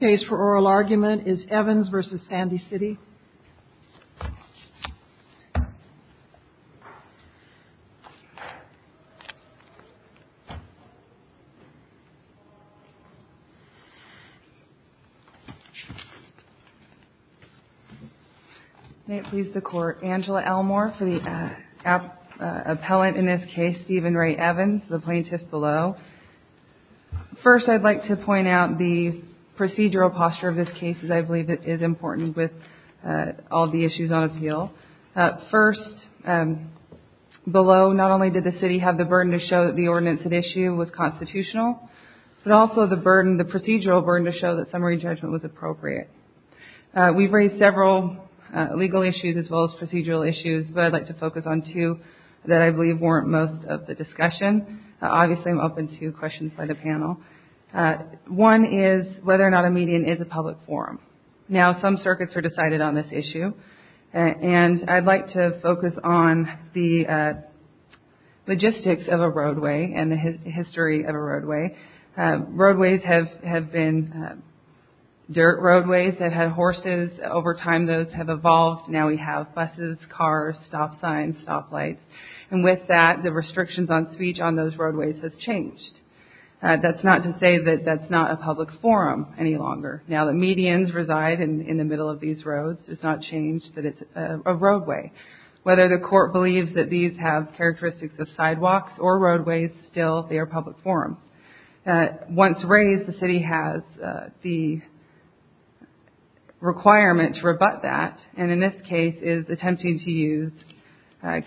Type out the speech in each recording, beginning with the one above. case for oral argument is Evans v. Sandy City. May it please the Court, Angela Elmore for the appellant in this case, Stephen Ray Evans, the plaintiff below. First, I'd like to point out the procedural posture of this case, as I believe it is important with all the issues on appeal. First, below, not only did the City have the burden to show that the ordinance at issue was constitutional, but also the procedural burden to show that summary judgment was appropriate. We've raised several legal issues as well as procedural issues, but I'd like to focus on two that I believe warrant most of the discussion. Obviously, I'm open to questions by the panel. One is whether or not a median is a public forum. Now, some circuits are decided on this issue, and I'd like to focus on the logistics of a roadway and the history of a roadway. Roadways have been dirt roadways that had horses. Over time, those have evolved. Now we have buses, cars, stop signs, stop lights, and with that, the restrictions on speech on those roadways have changed. That's not to say that that's not a public forum any longer. Now that medians reside in the middle of these roads, it's not changed that it's a roadway. Whether the Court believes that these have characteristics of sidewalks or roadways, still, they are public forums. Once raised, the city has the requirement to rebut that, and in this case is attempting to use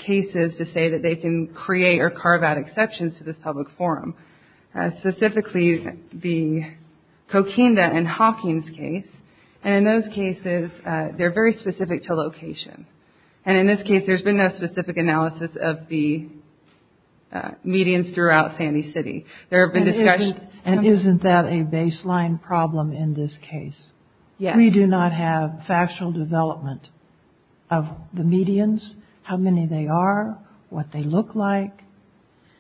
cases to say that they can create or carve out exceptions to this public forum. Specifically, the Coquinda and Hawkins case, and in those cases, they're very specific to location. And in this case, there's been no specific analysis of the medians throughout Sandy City. There have been discussions. And isn't that a baseline problem in this case? Yes. We do not have factual development of the medians, how many they are, what they look like,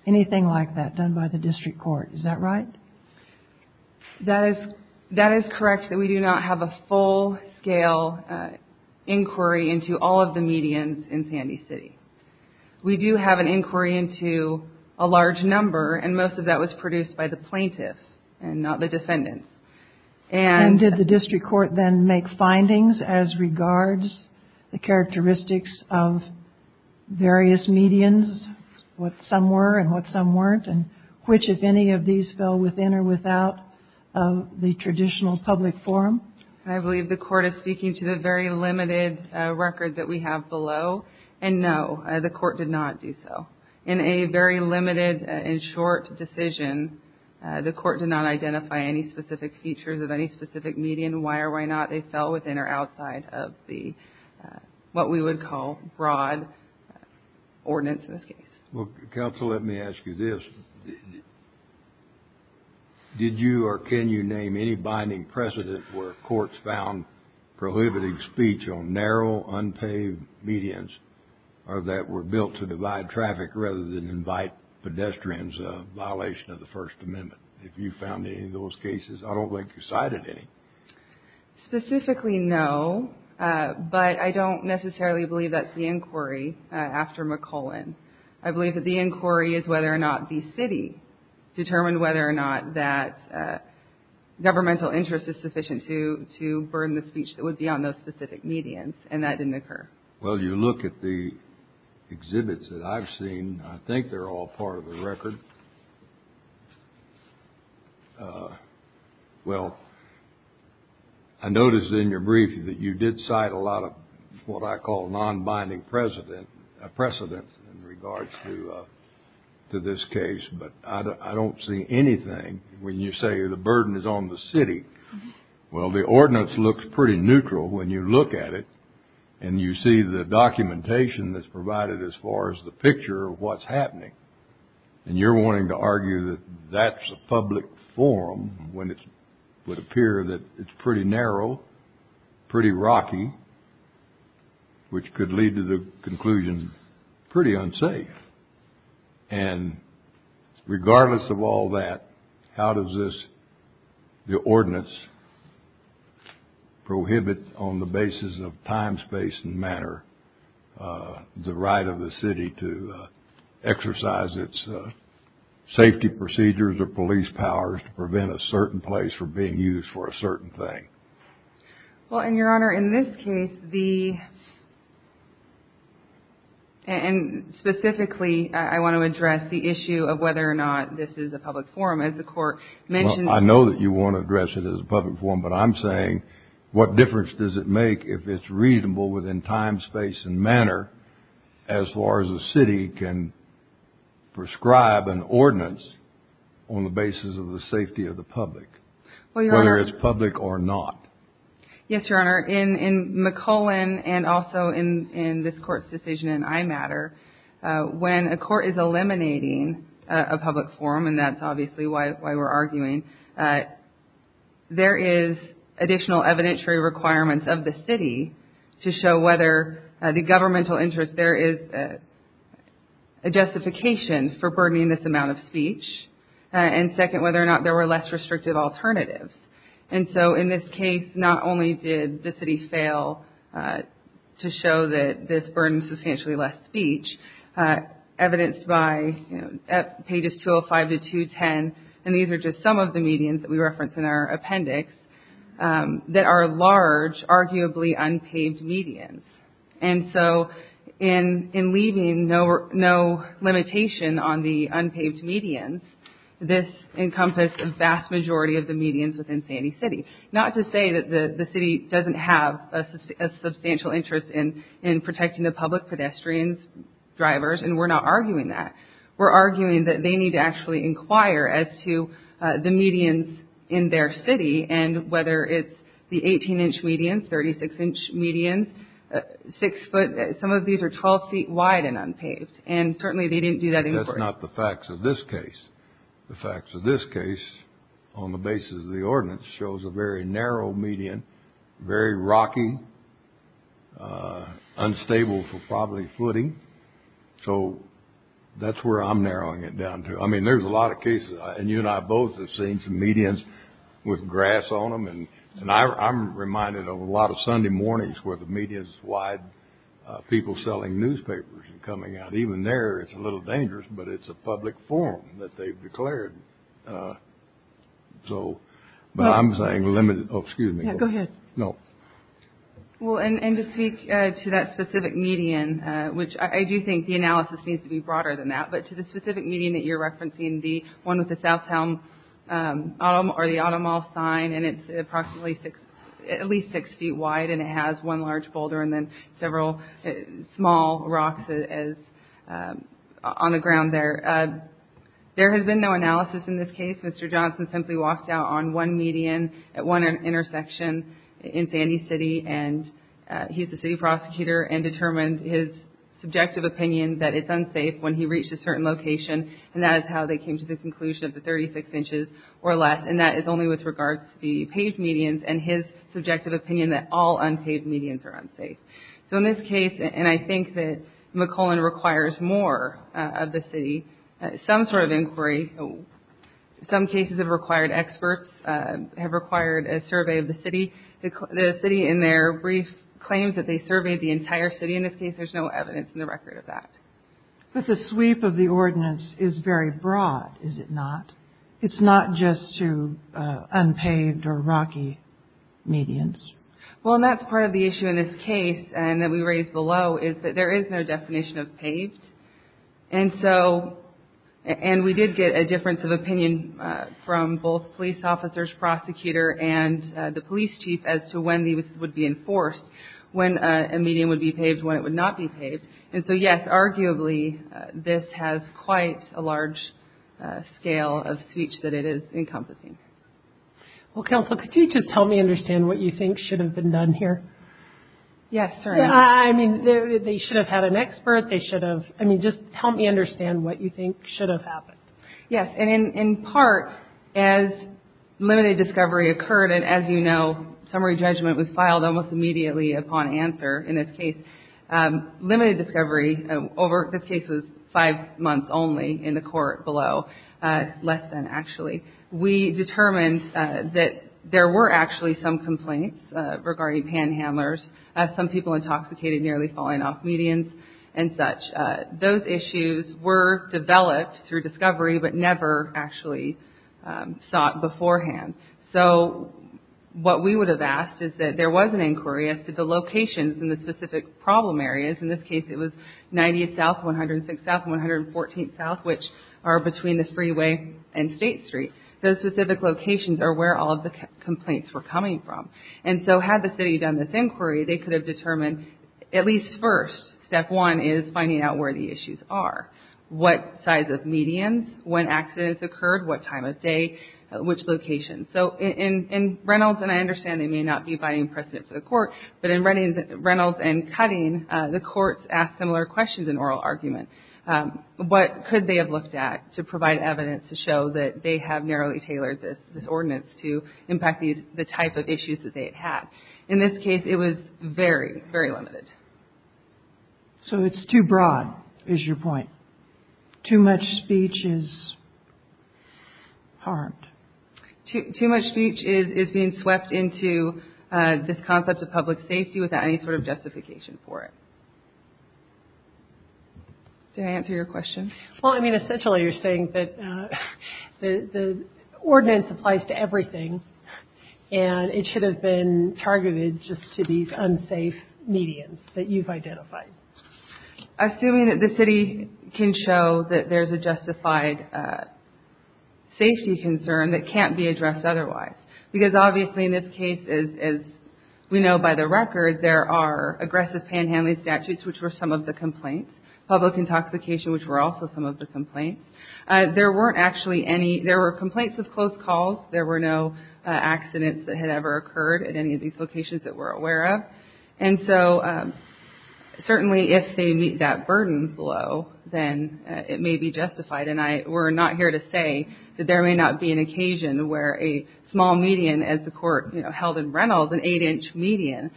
anything like that done by the district court. Is that right? That is correct that we do not have a full-scale inquiry into all of the medians in Sandy City. We do have an inquiry into a large number, and most of that was produced by the plaintiff and not the defendant. And did the district court then make findings as regards the characteristics of various medians, what some were and what some weren't, and which, if any, of these fell within or without the traditional public forum? I believe the Court is speaking to the very limited record that we have below. And, no, the Court did not do so. In a very limited and short decision, the Court did not identify any specific features of any specific median, why or why not they fell within or outside of what we would call broad ordinance in this case. Counsel, let me ask you this. Did you or can you name any binding precedent where courts found prohibiting speech on narrow, unpaved medians that were built to divide traffic rather than invite pedestrians, a violation of the First Amendment? If you found any of those cases, I don't think you cited any. Specifically, no, but I don't necessarily believe that's the inquiry after McClellan. I believe that the inquiry is whether or not the city determined whether or not that governmental interest is sufficient to burden the speech that would be on those specific medians, and that didn't occur. Well, you look at the exhibits that I've seen. I think they're all part of the record. Well, I noticed in your brief that you did cite a lot of what I call non-binding precedent in regards to this case, but I don't see anything when you say the burden is on the city. Well, the ordinance looks pretty neutral when you look at it, and you see the documentation that's provided as far as the picture of what's happening. And you're wanting to argue that that's a public forum when it would appear that it's pretty narrow, pretty rocky, which could lead to the conclusion pretty unsafe. And regardless of all that, how does this, the ordinance, prohibit on the basis of time, space, and manner the right of the city to exercise its safety procedures or police powers to prevent a certain place from being used for a certain thing? Well, Your Honor, in this case, and specifically, I want to address the issue of whether or not this is a public forum. Well, I know that you want to address it as a public forum, but I'm saying what difference does it make if it's reasonable within time, space, and manner as far as the city can prescribe an ordinance on the basis of the safety of the public, whether it's public or not? Yes, Your Honor. In McClellan and also in this Court's decision in iMatter, when a court is eliminating a public forum, and that's obviously why we're arguing, there is additional evidentiary requirements of the city to show whether the governmental interest, there is a justification for burdening this amount of speech, and second, whether or not there were less restrictive alternatives. And so in this case, not only did the city fail to show that this burdened substantially less speech, evidenced by pages 205 to 210, and these are just some of the medians that we reference in our appendix, that are large, arguably unpaved medians. And so in leaving no limitation on the unpaved medians, this encompassed a vast majority of the medians within Sandy City. Not to say that the city doesn't have a substantial interest in protecting the public pedestrians, drivers, and we're not arguing that. We're arguing that they need to actually inquire as to the medians in their city, and whether it's the 18-inch medians, 36-inch medians, 6-foot, some of these are 12 feet wide and unpaved, and certainly they didn't do that in court. But that's not the facts of this case. The facts of this case, on the basis of the ordinance, shows a very narrow median, very rocky, unstable for probably flooding. So that's where I'm narrowing it down to. I mean, there's a lot of cases, and you and I both have seen some medians with grass on them, and I'm reminded of a lot of Sunday mornings where the media is wide, people selling newspapers and coming out. And even there, it's a little dangerous, but it's a public forum that they've declared. So, but I'm saying limited. Oh, excuse me. Yeah, go ahead. No. Well, and to speak to that specific median, which I do think the analysis needs to be broader than that, but to the specific median that you're referencing, the one with the Southtown or the Automall sign, and it's approximately at least six feet wide, and it has one large boulder and then several small rocks on the ground there. There has been no analysis in this case. Mr. Johnson simply walked out on one median at one intersection in Sandy City, and he's a city prosecutor and determined his subjective opinion that it's unsafe when he reached a certain location, and that is how they came to the conclusion of the 36 inches or less. And that is only with regards to the paved medians and his subjective opinion that all unpaved medians are unsafe. So in this case, and I think that McClellan requires more of the city, some sort of inquiry, some cases have required experts, have required a survey of the city. The city in their brief claims that they surveyed the entire city. In this case, there's no evidence in the record of that. But the sweep of the ordinance is very broad, is it not? It's not just to unpaved or rocky medians. Well, and that's part of the issue in this case, and that we raised below, is that there is no definition of paved. And so, and we did get a difference of opinion from both police officers, prosecutor, and the police chief as to when these would be enforced, when a median would be paved, when it would not be paved. And so, yes, arguably, this has quite a large scale of speech that it is encompassing. Well, counsel, could you just help me understand what you think should have been done here? Yes, sir. I mean, they should have had an expert. They should have, I mean, just help me understand what you think should have happened. Yes, and in part, as limited discovery occurred, and as you know, summary judgment was filed almost immediately upon answer in this case. Limited discovery over this case was five months only in the court below, less than actually. We determined that there were actually some complaints regarding panhandlers, some people intoxicated nearly falling off medians and such. Those issues were developed through discovery but never actually sought beforehand. So, what we would have asked is that there was an inquiry as to the locations in the specific problem areas. In this case, it was 90th South, 106th South, 114th South, which are between the freeway and State Street. Those specific locations are where all of the complaints were coming from. And so, had the city done this inquiry, they could have determined, at least first, step one is finding out where the issues are. What size of medians? When accidents occurred? What time of day? Which location? So, in Reynolds, and I understand they may not be finding precedent for the court, but in Reynolds and Cutting, the courts asked similar questions in oral argument. What could they have looked at to provide evidence to show that they have narrowly tailored this ordinance to impact the type of issues that they had had? In this case, it was very, very limited. So, it's too broad is your point. Too much speech is harmed. Too much speech is being swept into this concept of public safety without any sort of justification for it. Did I answer your question? Well, I mean, essentially you're saying that the ordinance applies to everything and it should have been targeted just to these unsafe medians that you've identified. Assuming that the city can show that there's a justified safety concern that can't be addressed otherwise. Because, obviously, in this case, as we know by the record, there are aggressive panhandling statutes, which were some of the complaints, public intoxication, which were also some of the complaints. There weren't actually any. There were complaints of close calls. There were no accidents that had ever occurred at any of these locations that we're aware of. And so, certainly, if they meet that burden below, then it may be justified. And we're not here to say that there may not be an occasion where a small median, as the court held in Reynolds, an eight-inch median,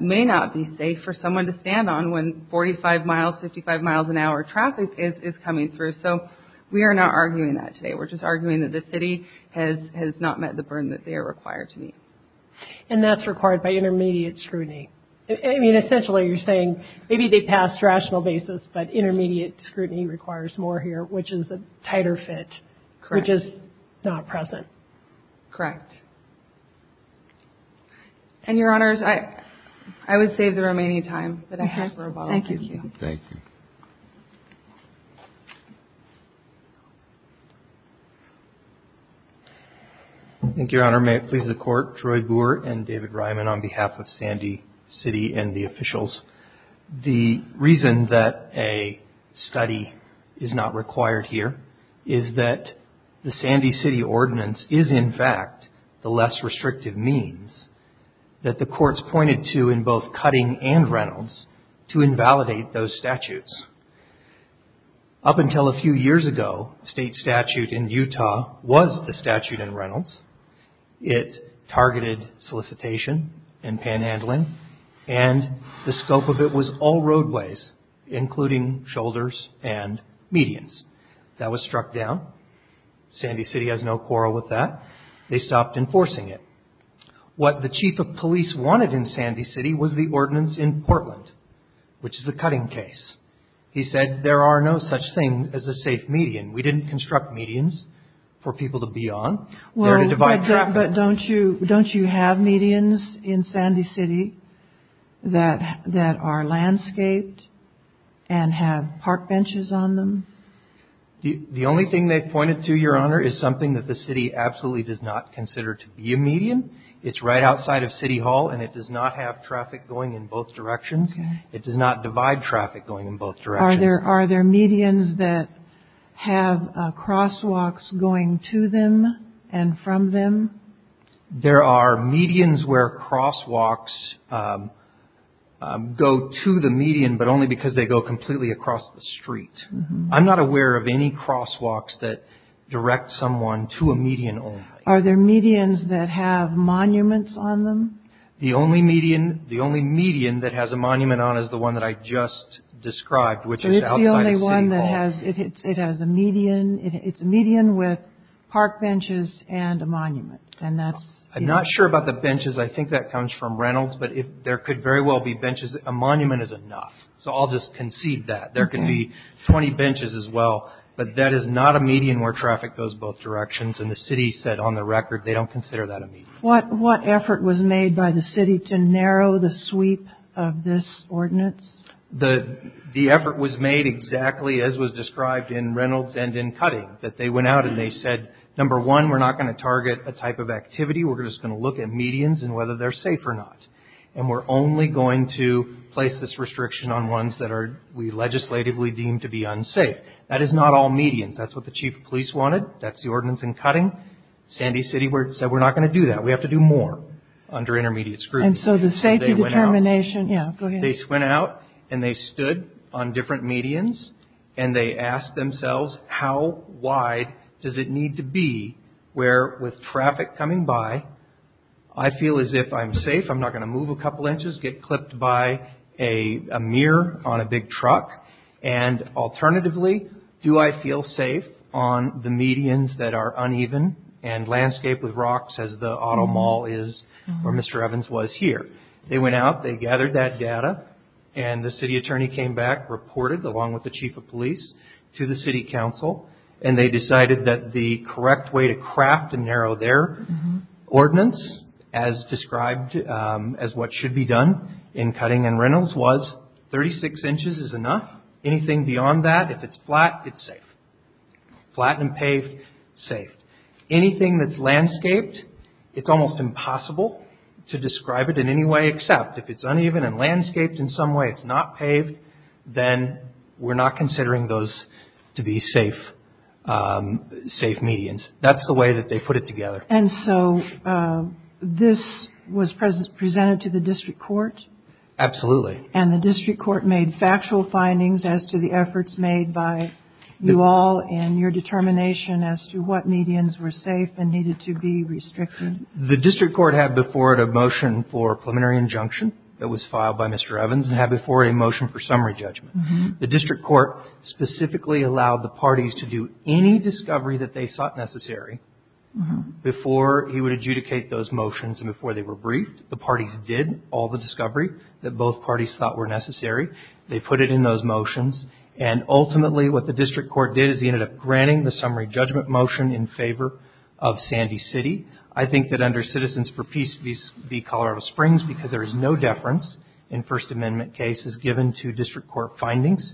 may not be safe for someone to stand on when 45 miles, 55 miles an hour traffic is coming through. So, we are not arguing that today. We're just arguing that the city has not met the burden that they are required to meet. And that's required by intermediate scrutiny. I mean, essentially, you're saying maybe they passed rational basis, but intermediate scrutiny requires more here, which is a tighter fit. Correct. Which is not present. Correct. And, Your Honors, I would save the room any time. Thank you. Thank you. Thank you, Your Honor. May it please the Court. Troy Boer and David Ryman on behalf of Sandy City and the officials. The reason that a study is not required here is that the Sandy City ordinance is, in fact, the less restrictive means that the courts pointed to in both Cutting and Reynolds to invalidate those statutes. Up until a few years ago, state statute in Utah was the statute in Reynolds. It targeted solicitation and panhandling. And the scope of it was all roadways, including shoulders and medians. That was struck down. Sandy City has no quarrel with that. They stopped enforcing it. What the chief of police wanted in Sandy City was the ordinance in Portland, which is the Cutting case. He said there are no such thing as a safe median. We didn't construct medians for people to be on. Well, but don't you have medians in Sandy City that are landscaped and have park benches on them? The only thing they pointed to, Your Honor, is something that the city absolutely does not consider to be a median. It's right outside of City Hall, and it does not have traffic going in both directions. It does not divide traffic going in both directions. Are there medians that have crosswalks going to them and from them? There are medians where crosswalks go to the median, but only because they go completely across the street. I'm not aware of any crosswalks that direct someone to a median only. Are there medians that have monuments on them? The only median that has a monument on it is the one that I just described, which is outside of City Hall. So it's the only one that has a median. It's a median with park benches and a monument. I'm not sure about the benches. I think that comes from Reynolds, but there could very well be benches. A monument is enough, so I'll just concede that. There could be 20 benches as well, but that is not a median where traffic goes both directions, and the city said on the record they don't consider that a median. What effort was made by the city to narrow the sweep of this ordinance? The effort was made exactly as was described in Reynolds and in Cutting, that they went out and they said, number one, we're not going to target a type of activity. We're just going to look at medians and whether they're safe or not, and we're only going to place this restriction on ones that we legislatively deem to be unsafe. That is not all medians. That's what the chief of police wanted. That's the ordinance in Cutting. Sandy City said we're not going to do that. We have to do more under intermediate scrutiny. And so the safety determination, yeah, go ahead. They went out and they stood on different medians, and they asked themselves how wide does it need to be where with traffic coming by, I feel as if I'm safe, I'm not going to move a couple inches, get clipped by a mirror on a big truck, and alternatively, do I feel safe on the medians that are uneven and landscaped with rocks as the auto mall is where Mr. Evans was here. They went out, they gathered that data, and the city attorney came back, reported, along with the chief of police, to the city council, and they decided that the correct way to craft and narrow their ordinance as described as what should be done in Cutting and Reynolds was 36 inches is enough. Anything beyond that, if it's flat, it's safe. Flat and paved, safe. Anything that's landscaped, it's almost impossible to describe it in any way except if it's uneven and landscaped in some way, it's not paved, then we're not considering those to be safe medians. That's the way that they put it together. And so this was presented to the district court? Absolutely. And the district court made factual findings as to the efforts made by you all and your determination as to what medians were safe and needed to be restricted? The district court had before it a motion for a preliminary injunction that was filed by Mr. Evans and had before it a motion for summary judgment. The district court specifically allowed the parties to do any discovery that they thought necessary before he would adjudicate those motions and before they were briefed. The parties did all the discovery that both parties thought were necessary. They put it in those motions, and ultimately what the district court did is he ended up granting the summary judgment motion in favor of Sandy City. I think that under Citizens for Peace v. Colorado Springs, because there is no deference in First Amendment cases given to district court findings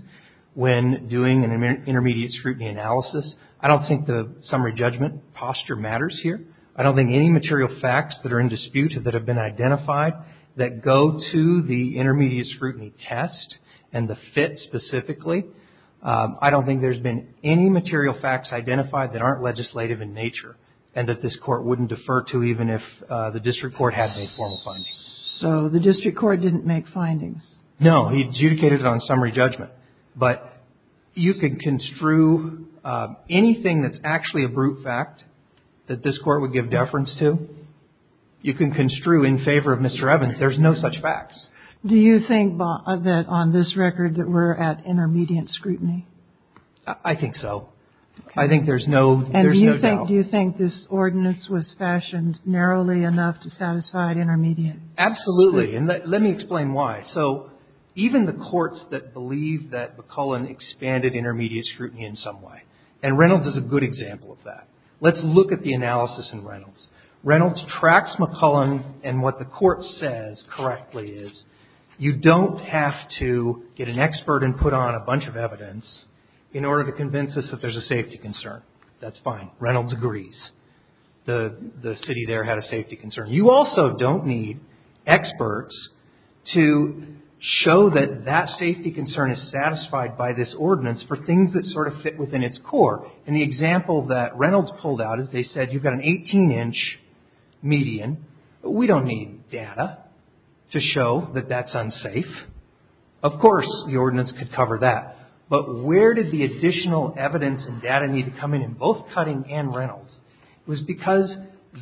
when doing an intermediate scrutiny analysis, I don't think the summary judgment posture matters here. I don't think any material facts that are in dispute that have been identified that go to the intermediate scrutiny test and the fit specifically, I don't think there's been any material facts identified that aren't legislative in nature and that this court wouldn't defer to even if the district court had made formal findings. So the district court didn't make findings? No. He adjudicated it on summary judgment. But you can construe anything that's actually a brute fact that this court would give deference to, you can construe in favor of Mr. Evans. There's no such facts. Do you think that on this record that we're at intermediate scrutiny? I think so. I think there's no doubt. Do you think this ordinance was fashioned narrowly enough to satisfy an intermediate? Absolutely. And let me explain why. So even the courts that believe that McCullen expanded intermediate scrutiny in some way, and Reynolds is a good example of that. Let's look at the analysis in Reynolds. Reynolds tracks McCullen, and what the court says correctly is you don't have to get an expert and put on a bunch of evidence in order to convince us that there's a safety concern. That's fine. Reynolds agrees. The city there had a safety concern. You also don't need experts to show that that safety concern is satisfied by this ordinance for things that sort of fit within its core. And the example that Reynolds pulled out is they said you've got an 18-inch median, but we don't need data to show that that's unsafe. Of course the ordinance could cover that. But where did the additional evidence and data need to come in in both Cutting and Reynolds? It was because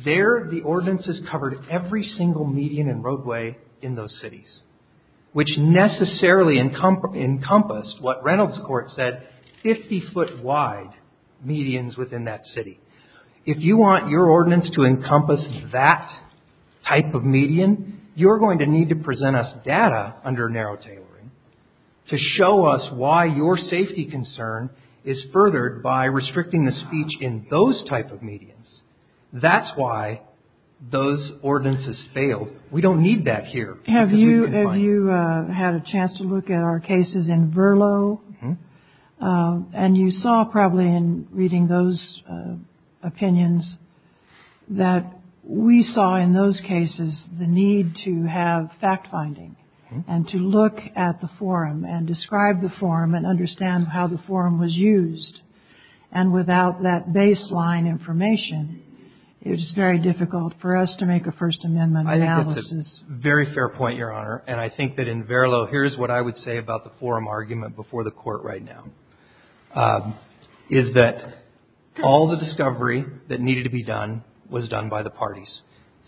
there the ordinances covered every single median and roadway in those cities, which necessarily encompassed what Reynolds court said, 50-foot wide medians within that city. If you want your ordinance to encompass that type of median, you're going to need to present us data under narrow tailoring to show us why your safety concern is furthered by restricting the speech in those type of medians. That's why those ordinances failed. We don't need that here. Have you had a chance to look at our cases in Verlo? And you saw probably in reading those opinions that we saw in those cases the need to have fact-finding and to look at the forum and describe the forum and understand how the forum was used. And without that baseline information, it is very difficult for us to make a First Amendment analysis. I think that's a very fair point, Your Honor. And I think that in Verlo, here's what I would say about the forum argument before the court right now, is that all the discovery that needed to be done was done by the parties.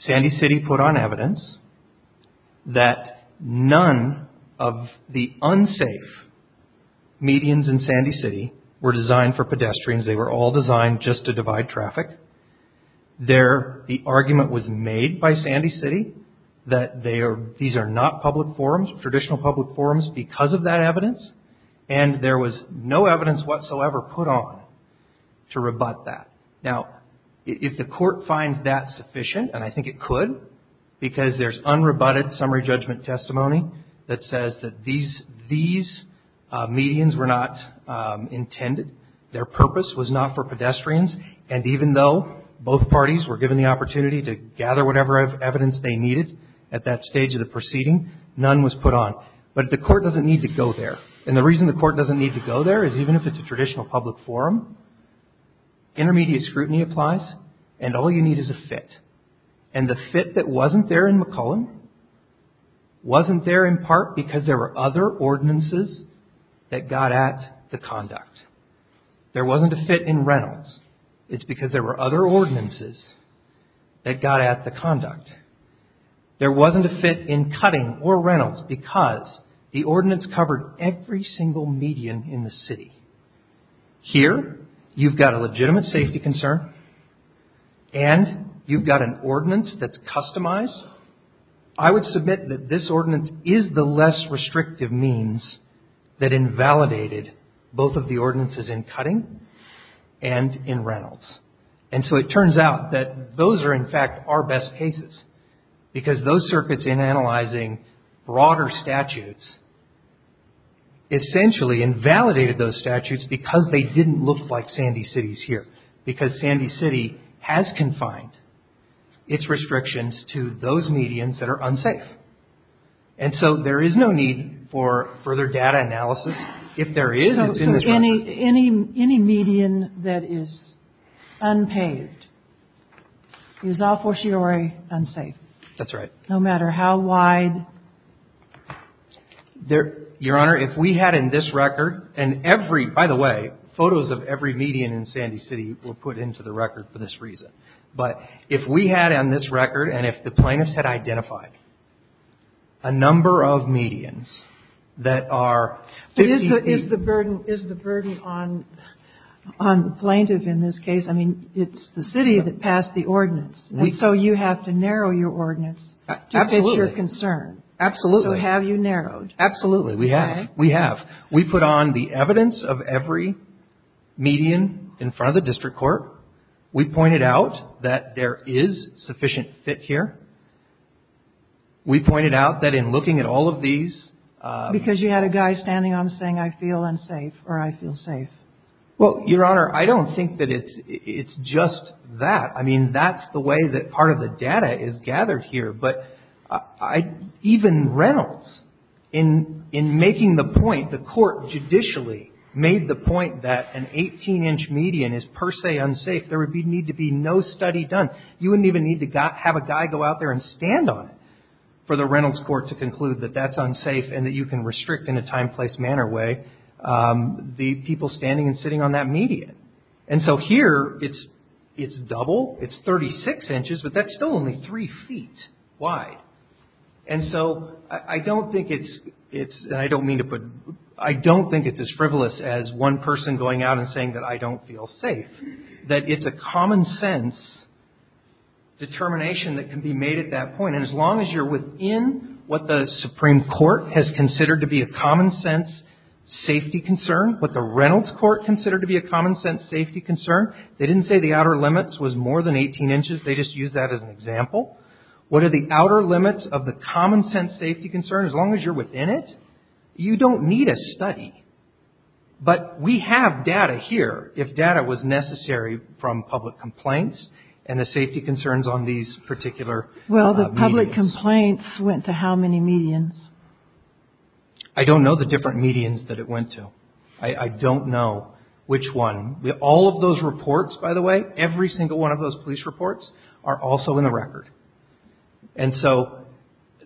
Sandy City put on evidence that none of the unsafe medians in Sandy City were designed for pedestrians. They were all designed just to divide traffic. The argument was made by Sandy City that these are not public forums, traditional public forums, because of that evidence and there was no evidence whatsoever put on to rebut that. Now, if the court finds that sufficient, and I think it could, because there's unrebutted summary judgment testimony that says that these medians were not intended, their purpose was not for pedestrians, and even though both parties were given the opportunity to gather whatever evidence they needed at that stage of the proceeding, none was put on. But the court doesn't need to go there. And the reason the court doesn't need to go there is even if it's a traditional public forum, intermediate scrutiny applies and all you need is a fit. And the fit that wasn't there in McClellan wasn't there in part because there were other ordinances that got at the conduct. There wasn't a fit in Reynolds. It's because there were other ordinances that got at the conduct. There wasn't a fit in Cutting or Reynolds because the ordinance covered every single median in the city. Here, you've got a legitimate safety concern and you've got an ordinance that's customized. I would submit that this ordinance is the less restrictive means that invalidated both of the ordinances in Cutting and in Reynolds. And so it turns out that those are, in fact, our best cases because those circuits, in analyzing broader statutes, essentially invalidated those statutes because they didn't look like Sandy City's here, because Sandy City has confined its restrictions to those medians that are unsafe. And so there is no need for further data analysis. If there is, it's in this record. Any median that is unpaved is a fortiori unsafe. That's right. No matter how wide. Your Honor, if we had in this record, and every, by the way, photos of every median in Sandy City were put into the record for this reason. But if we had on this record, and if the plaintiffs had identified a number of medians that are... But is the burden on the plaintiff in this case, I mean, it's the city that passed the ordinance. And so you have to narrow your ordinance to fit your concern. Absolutely. So have you narrowed? Absolutely. We have. We put on the evidence of every median in front of the district court. We pointed out that there is sufficient fit here. We pointed out that in looking at all of these... Because you had a guy standing on them saying, I feel unsafe, or I feel safe. Well, Your Honor, I don't think that it's just that. I mean, that's the way that part of the data is gathered here. But even Reynolds, in making the point, the court judicially made the point that an 18-inch median is per se unsafe. There would need to be no study done. You wouldn't even need to have a guy go out there and stand on it for the Reynolds court to conclude that that's unsafe and that you can restrict in a time, place, manner way the people standing and sitting on that median. And so here, it's double. It's 36 inches, but that's still only three feet wide. And so I don't think it's... And I don't mean to put... I don't think it's as frivolous as one person going out and saying that I don't feel safe. That it's a common sense determination that can be made at that point. And as long as you're within what the Supreme Court has considered to be a common sense safety concern, what the Reynolds court considered to be a common sense safety concern, they didn't say the outer limits was more than 18 inches. They just used that as an example. What are the outer limits of the common sense safety concern? As long as you're within it, you don't need a study. But we have data here if data was necessary from public complaints and the safety concerns on these particular medians. Well, the public complaints went to how many medians? I don't know the different medians that it went to. I don't know which one. All of those reports, by the way, every single one of those police reports are also in the record. And so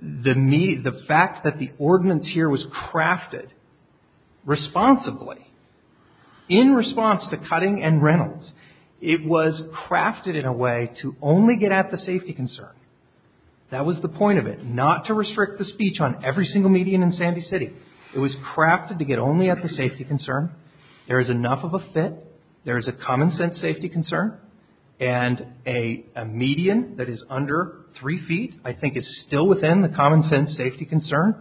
the fact that the ordinance here was crafted responsibly in response to Cutting and Reynolds, it was crafted in a way to only get at the safety concern. That was the point of it, not to restrict the speech on every single median in Sandy City. It was crafted to get only at the safety concern. There is enough of a fit. There is a common sense safety concern. And a median that is under three feet I think is still within the common sense safety concern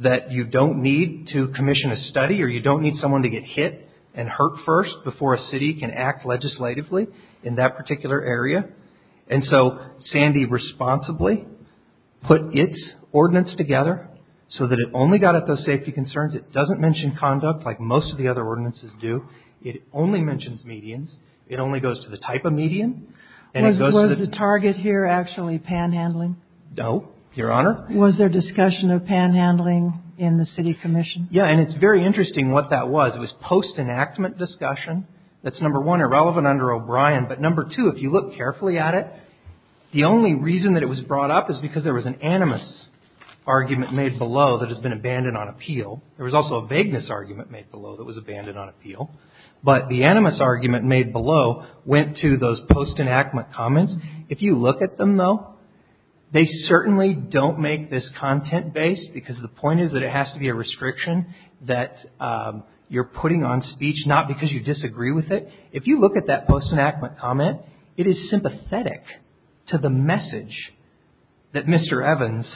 that you don't need to commission a study or you don't need someone to get hit and hurt first before a city can act legislatively in that particular area. And so Sandy responsibly put its ordinance together so that it only got at those safety concerns. It doesn't mention conduct like most of the other ordinances do. It only mentions medians. It only goes to the type of median. Was the target here actually panhandling? No, Your Honor. Was there discussion of panhandling in the city commission? Yeah, and it's very interesting what that was. It was post-enactment discussion. That's number one, irrelevant under O'Brien. But number two, if you look carefully at it, the only reason that it was brought up is because there was an animus argument made below that has been abandoned on appeal. There was also a vagueness argument made below that was abandoned on appeal. But the animus argument made below went to those post-enactment comments. If you look at them, though, they certainly don't make this content-based because the point is that it has to be a restriction that you're putting on speech, not because you disagree with it. If you look at that post-enactment comment, it is sympathetic to the message that Mr. Evans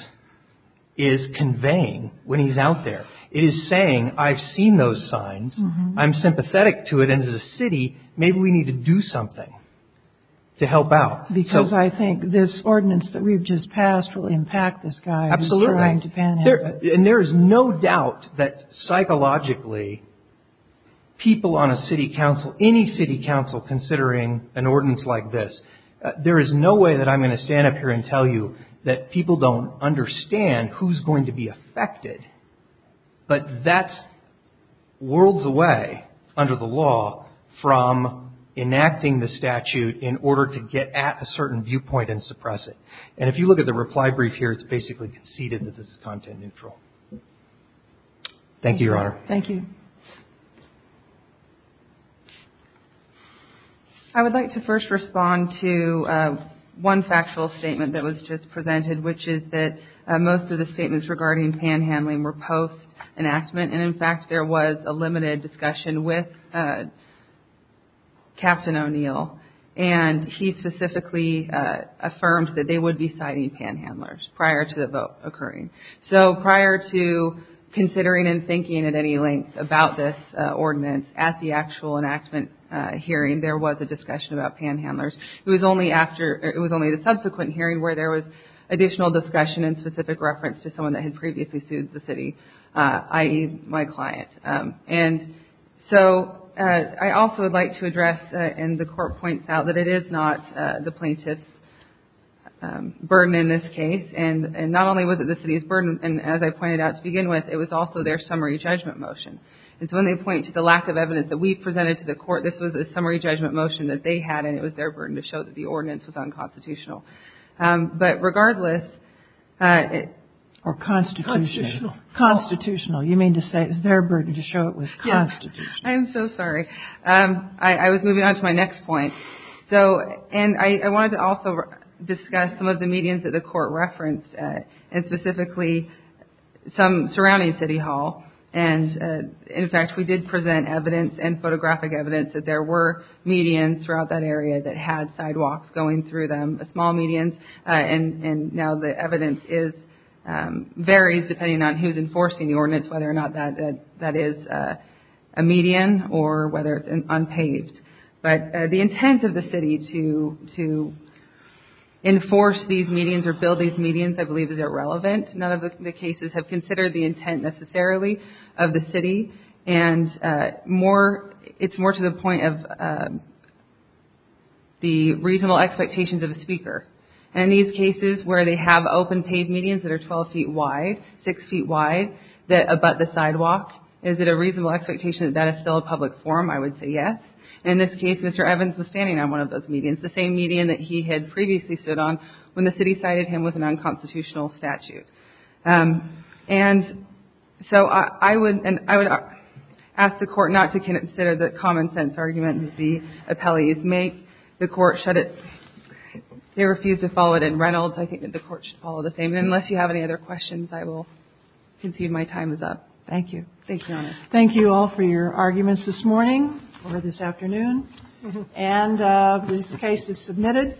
is conveying when he's out there. It is saying, I've seen those signs, I'm sympathetic to it, and as a city, maybe we need to do something to help out. Because I think this ordinance that we've just passed will impact this guy. Absolutely. He's trying to panhandle. And there is no doubt that psychologically people on a city council, any city council considering an ordinance like this, there is no way that I'm going to stand up here and tell you that people don't understand who's going to be affected. But that's worlds away under the law from enacting the statute in order to get at a certain viewpoint and suppress it. And if you look at the reply brief here, it's basically conceded that this is content-neutral. Thank you, Your Honor. Thank you. I would like to first respond to one factual statement that was just presented, which is that most of the statements regarding panhandling were post-enactment. And, in fact, there was a limited discussion with Captain O'Neill. And he specifically affirmed that they would be citing panhandlers prior to the vote occurring. So prior to considering and thinking at any length about this ordinance, at the actual enactment hearing there was a discussion about panhandlers. It was only the subsequent hearing where there was additional discussion in specific reference to someone that had previously sued the city, i.e., my client. And so I also would like to address, and the Court points out, that it is not the plaintiff's burden in this case. And not only was it the city's burden, and as I pointed out to begin with, it was also their summary judgment motion. And so when they point to the lack of evidence that we presented to the Court, this was a summary judgment motion that they had, and it was their burden to show that the ordinance was unconstitutional. But regardless, it was unconstitutional. Constitutional. You mean to say it was their burden to show it was constitutional. Yes. I am so sorry. I was moving on to my next point. And I wanted to also discuss some of the medians that the Court referenced, and specifically some surrounding City Hall. And, in fact, we did present evidence and photographic evidence that there were medians throughout that area that had sidewalks going through them, small medians. And now the evidence varies depending on who is enforcing the ordinance, whether or not that is a median or whether it's unpaved. But the intent of the city to enforce these medians or build these medians, I believe, is irrelevant. None of the cases have considered the intent necessarily of the city. And it's more to the point of the reasonable expectations of a speaker. In these cases where they have open paved medians that are 12 feet wide, six feet wide, that abut the sidewalk, is it a reasonable expectation that that is still a public forum? I would say yes. In this case, Mr. Evans was standing on one of those medians, the same median that he had previously stood on when the city cited him with an unconstitutional statute. And so I would ask the Court not to consider the common sense argument that the appellees make. The Court should – they refused to follow it in Reynolds. I think that the Court should follow the same. Unless you have any other questions, I will concede my time is up. Thank you. Thank you, Your Honor. Thank you all for your arguments this morning or this afternoon. And this case is submitted.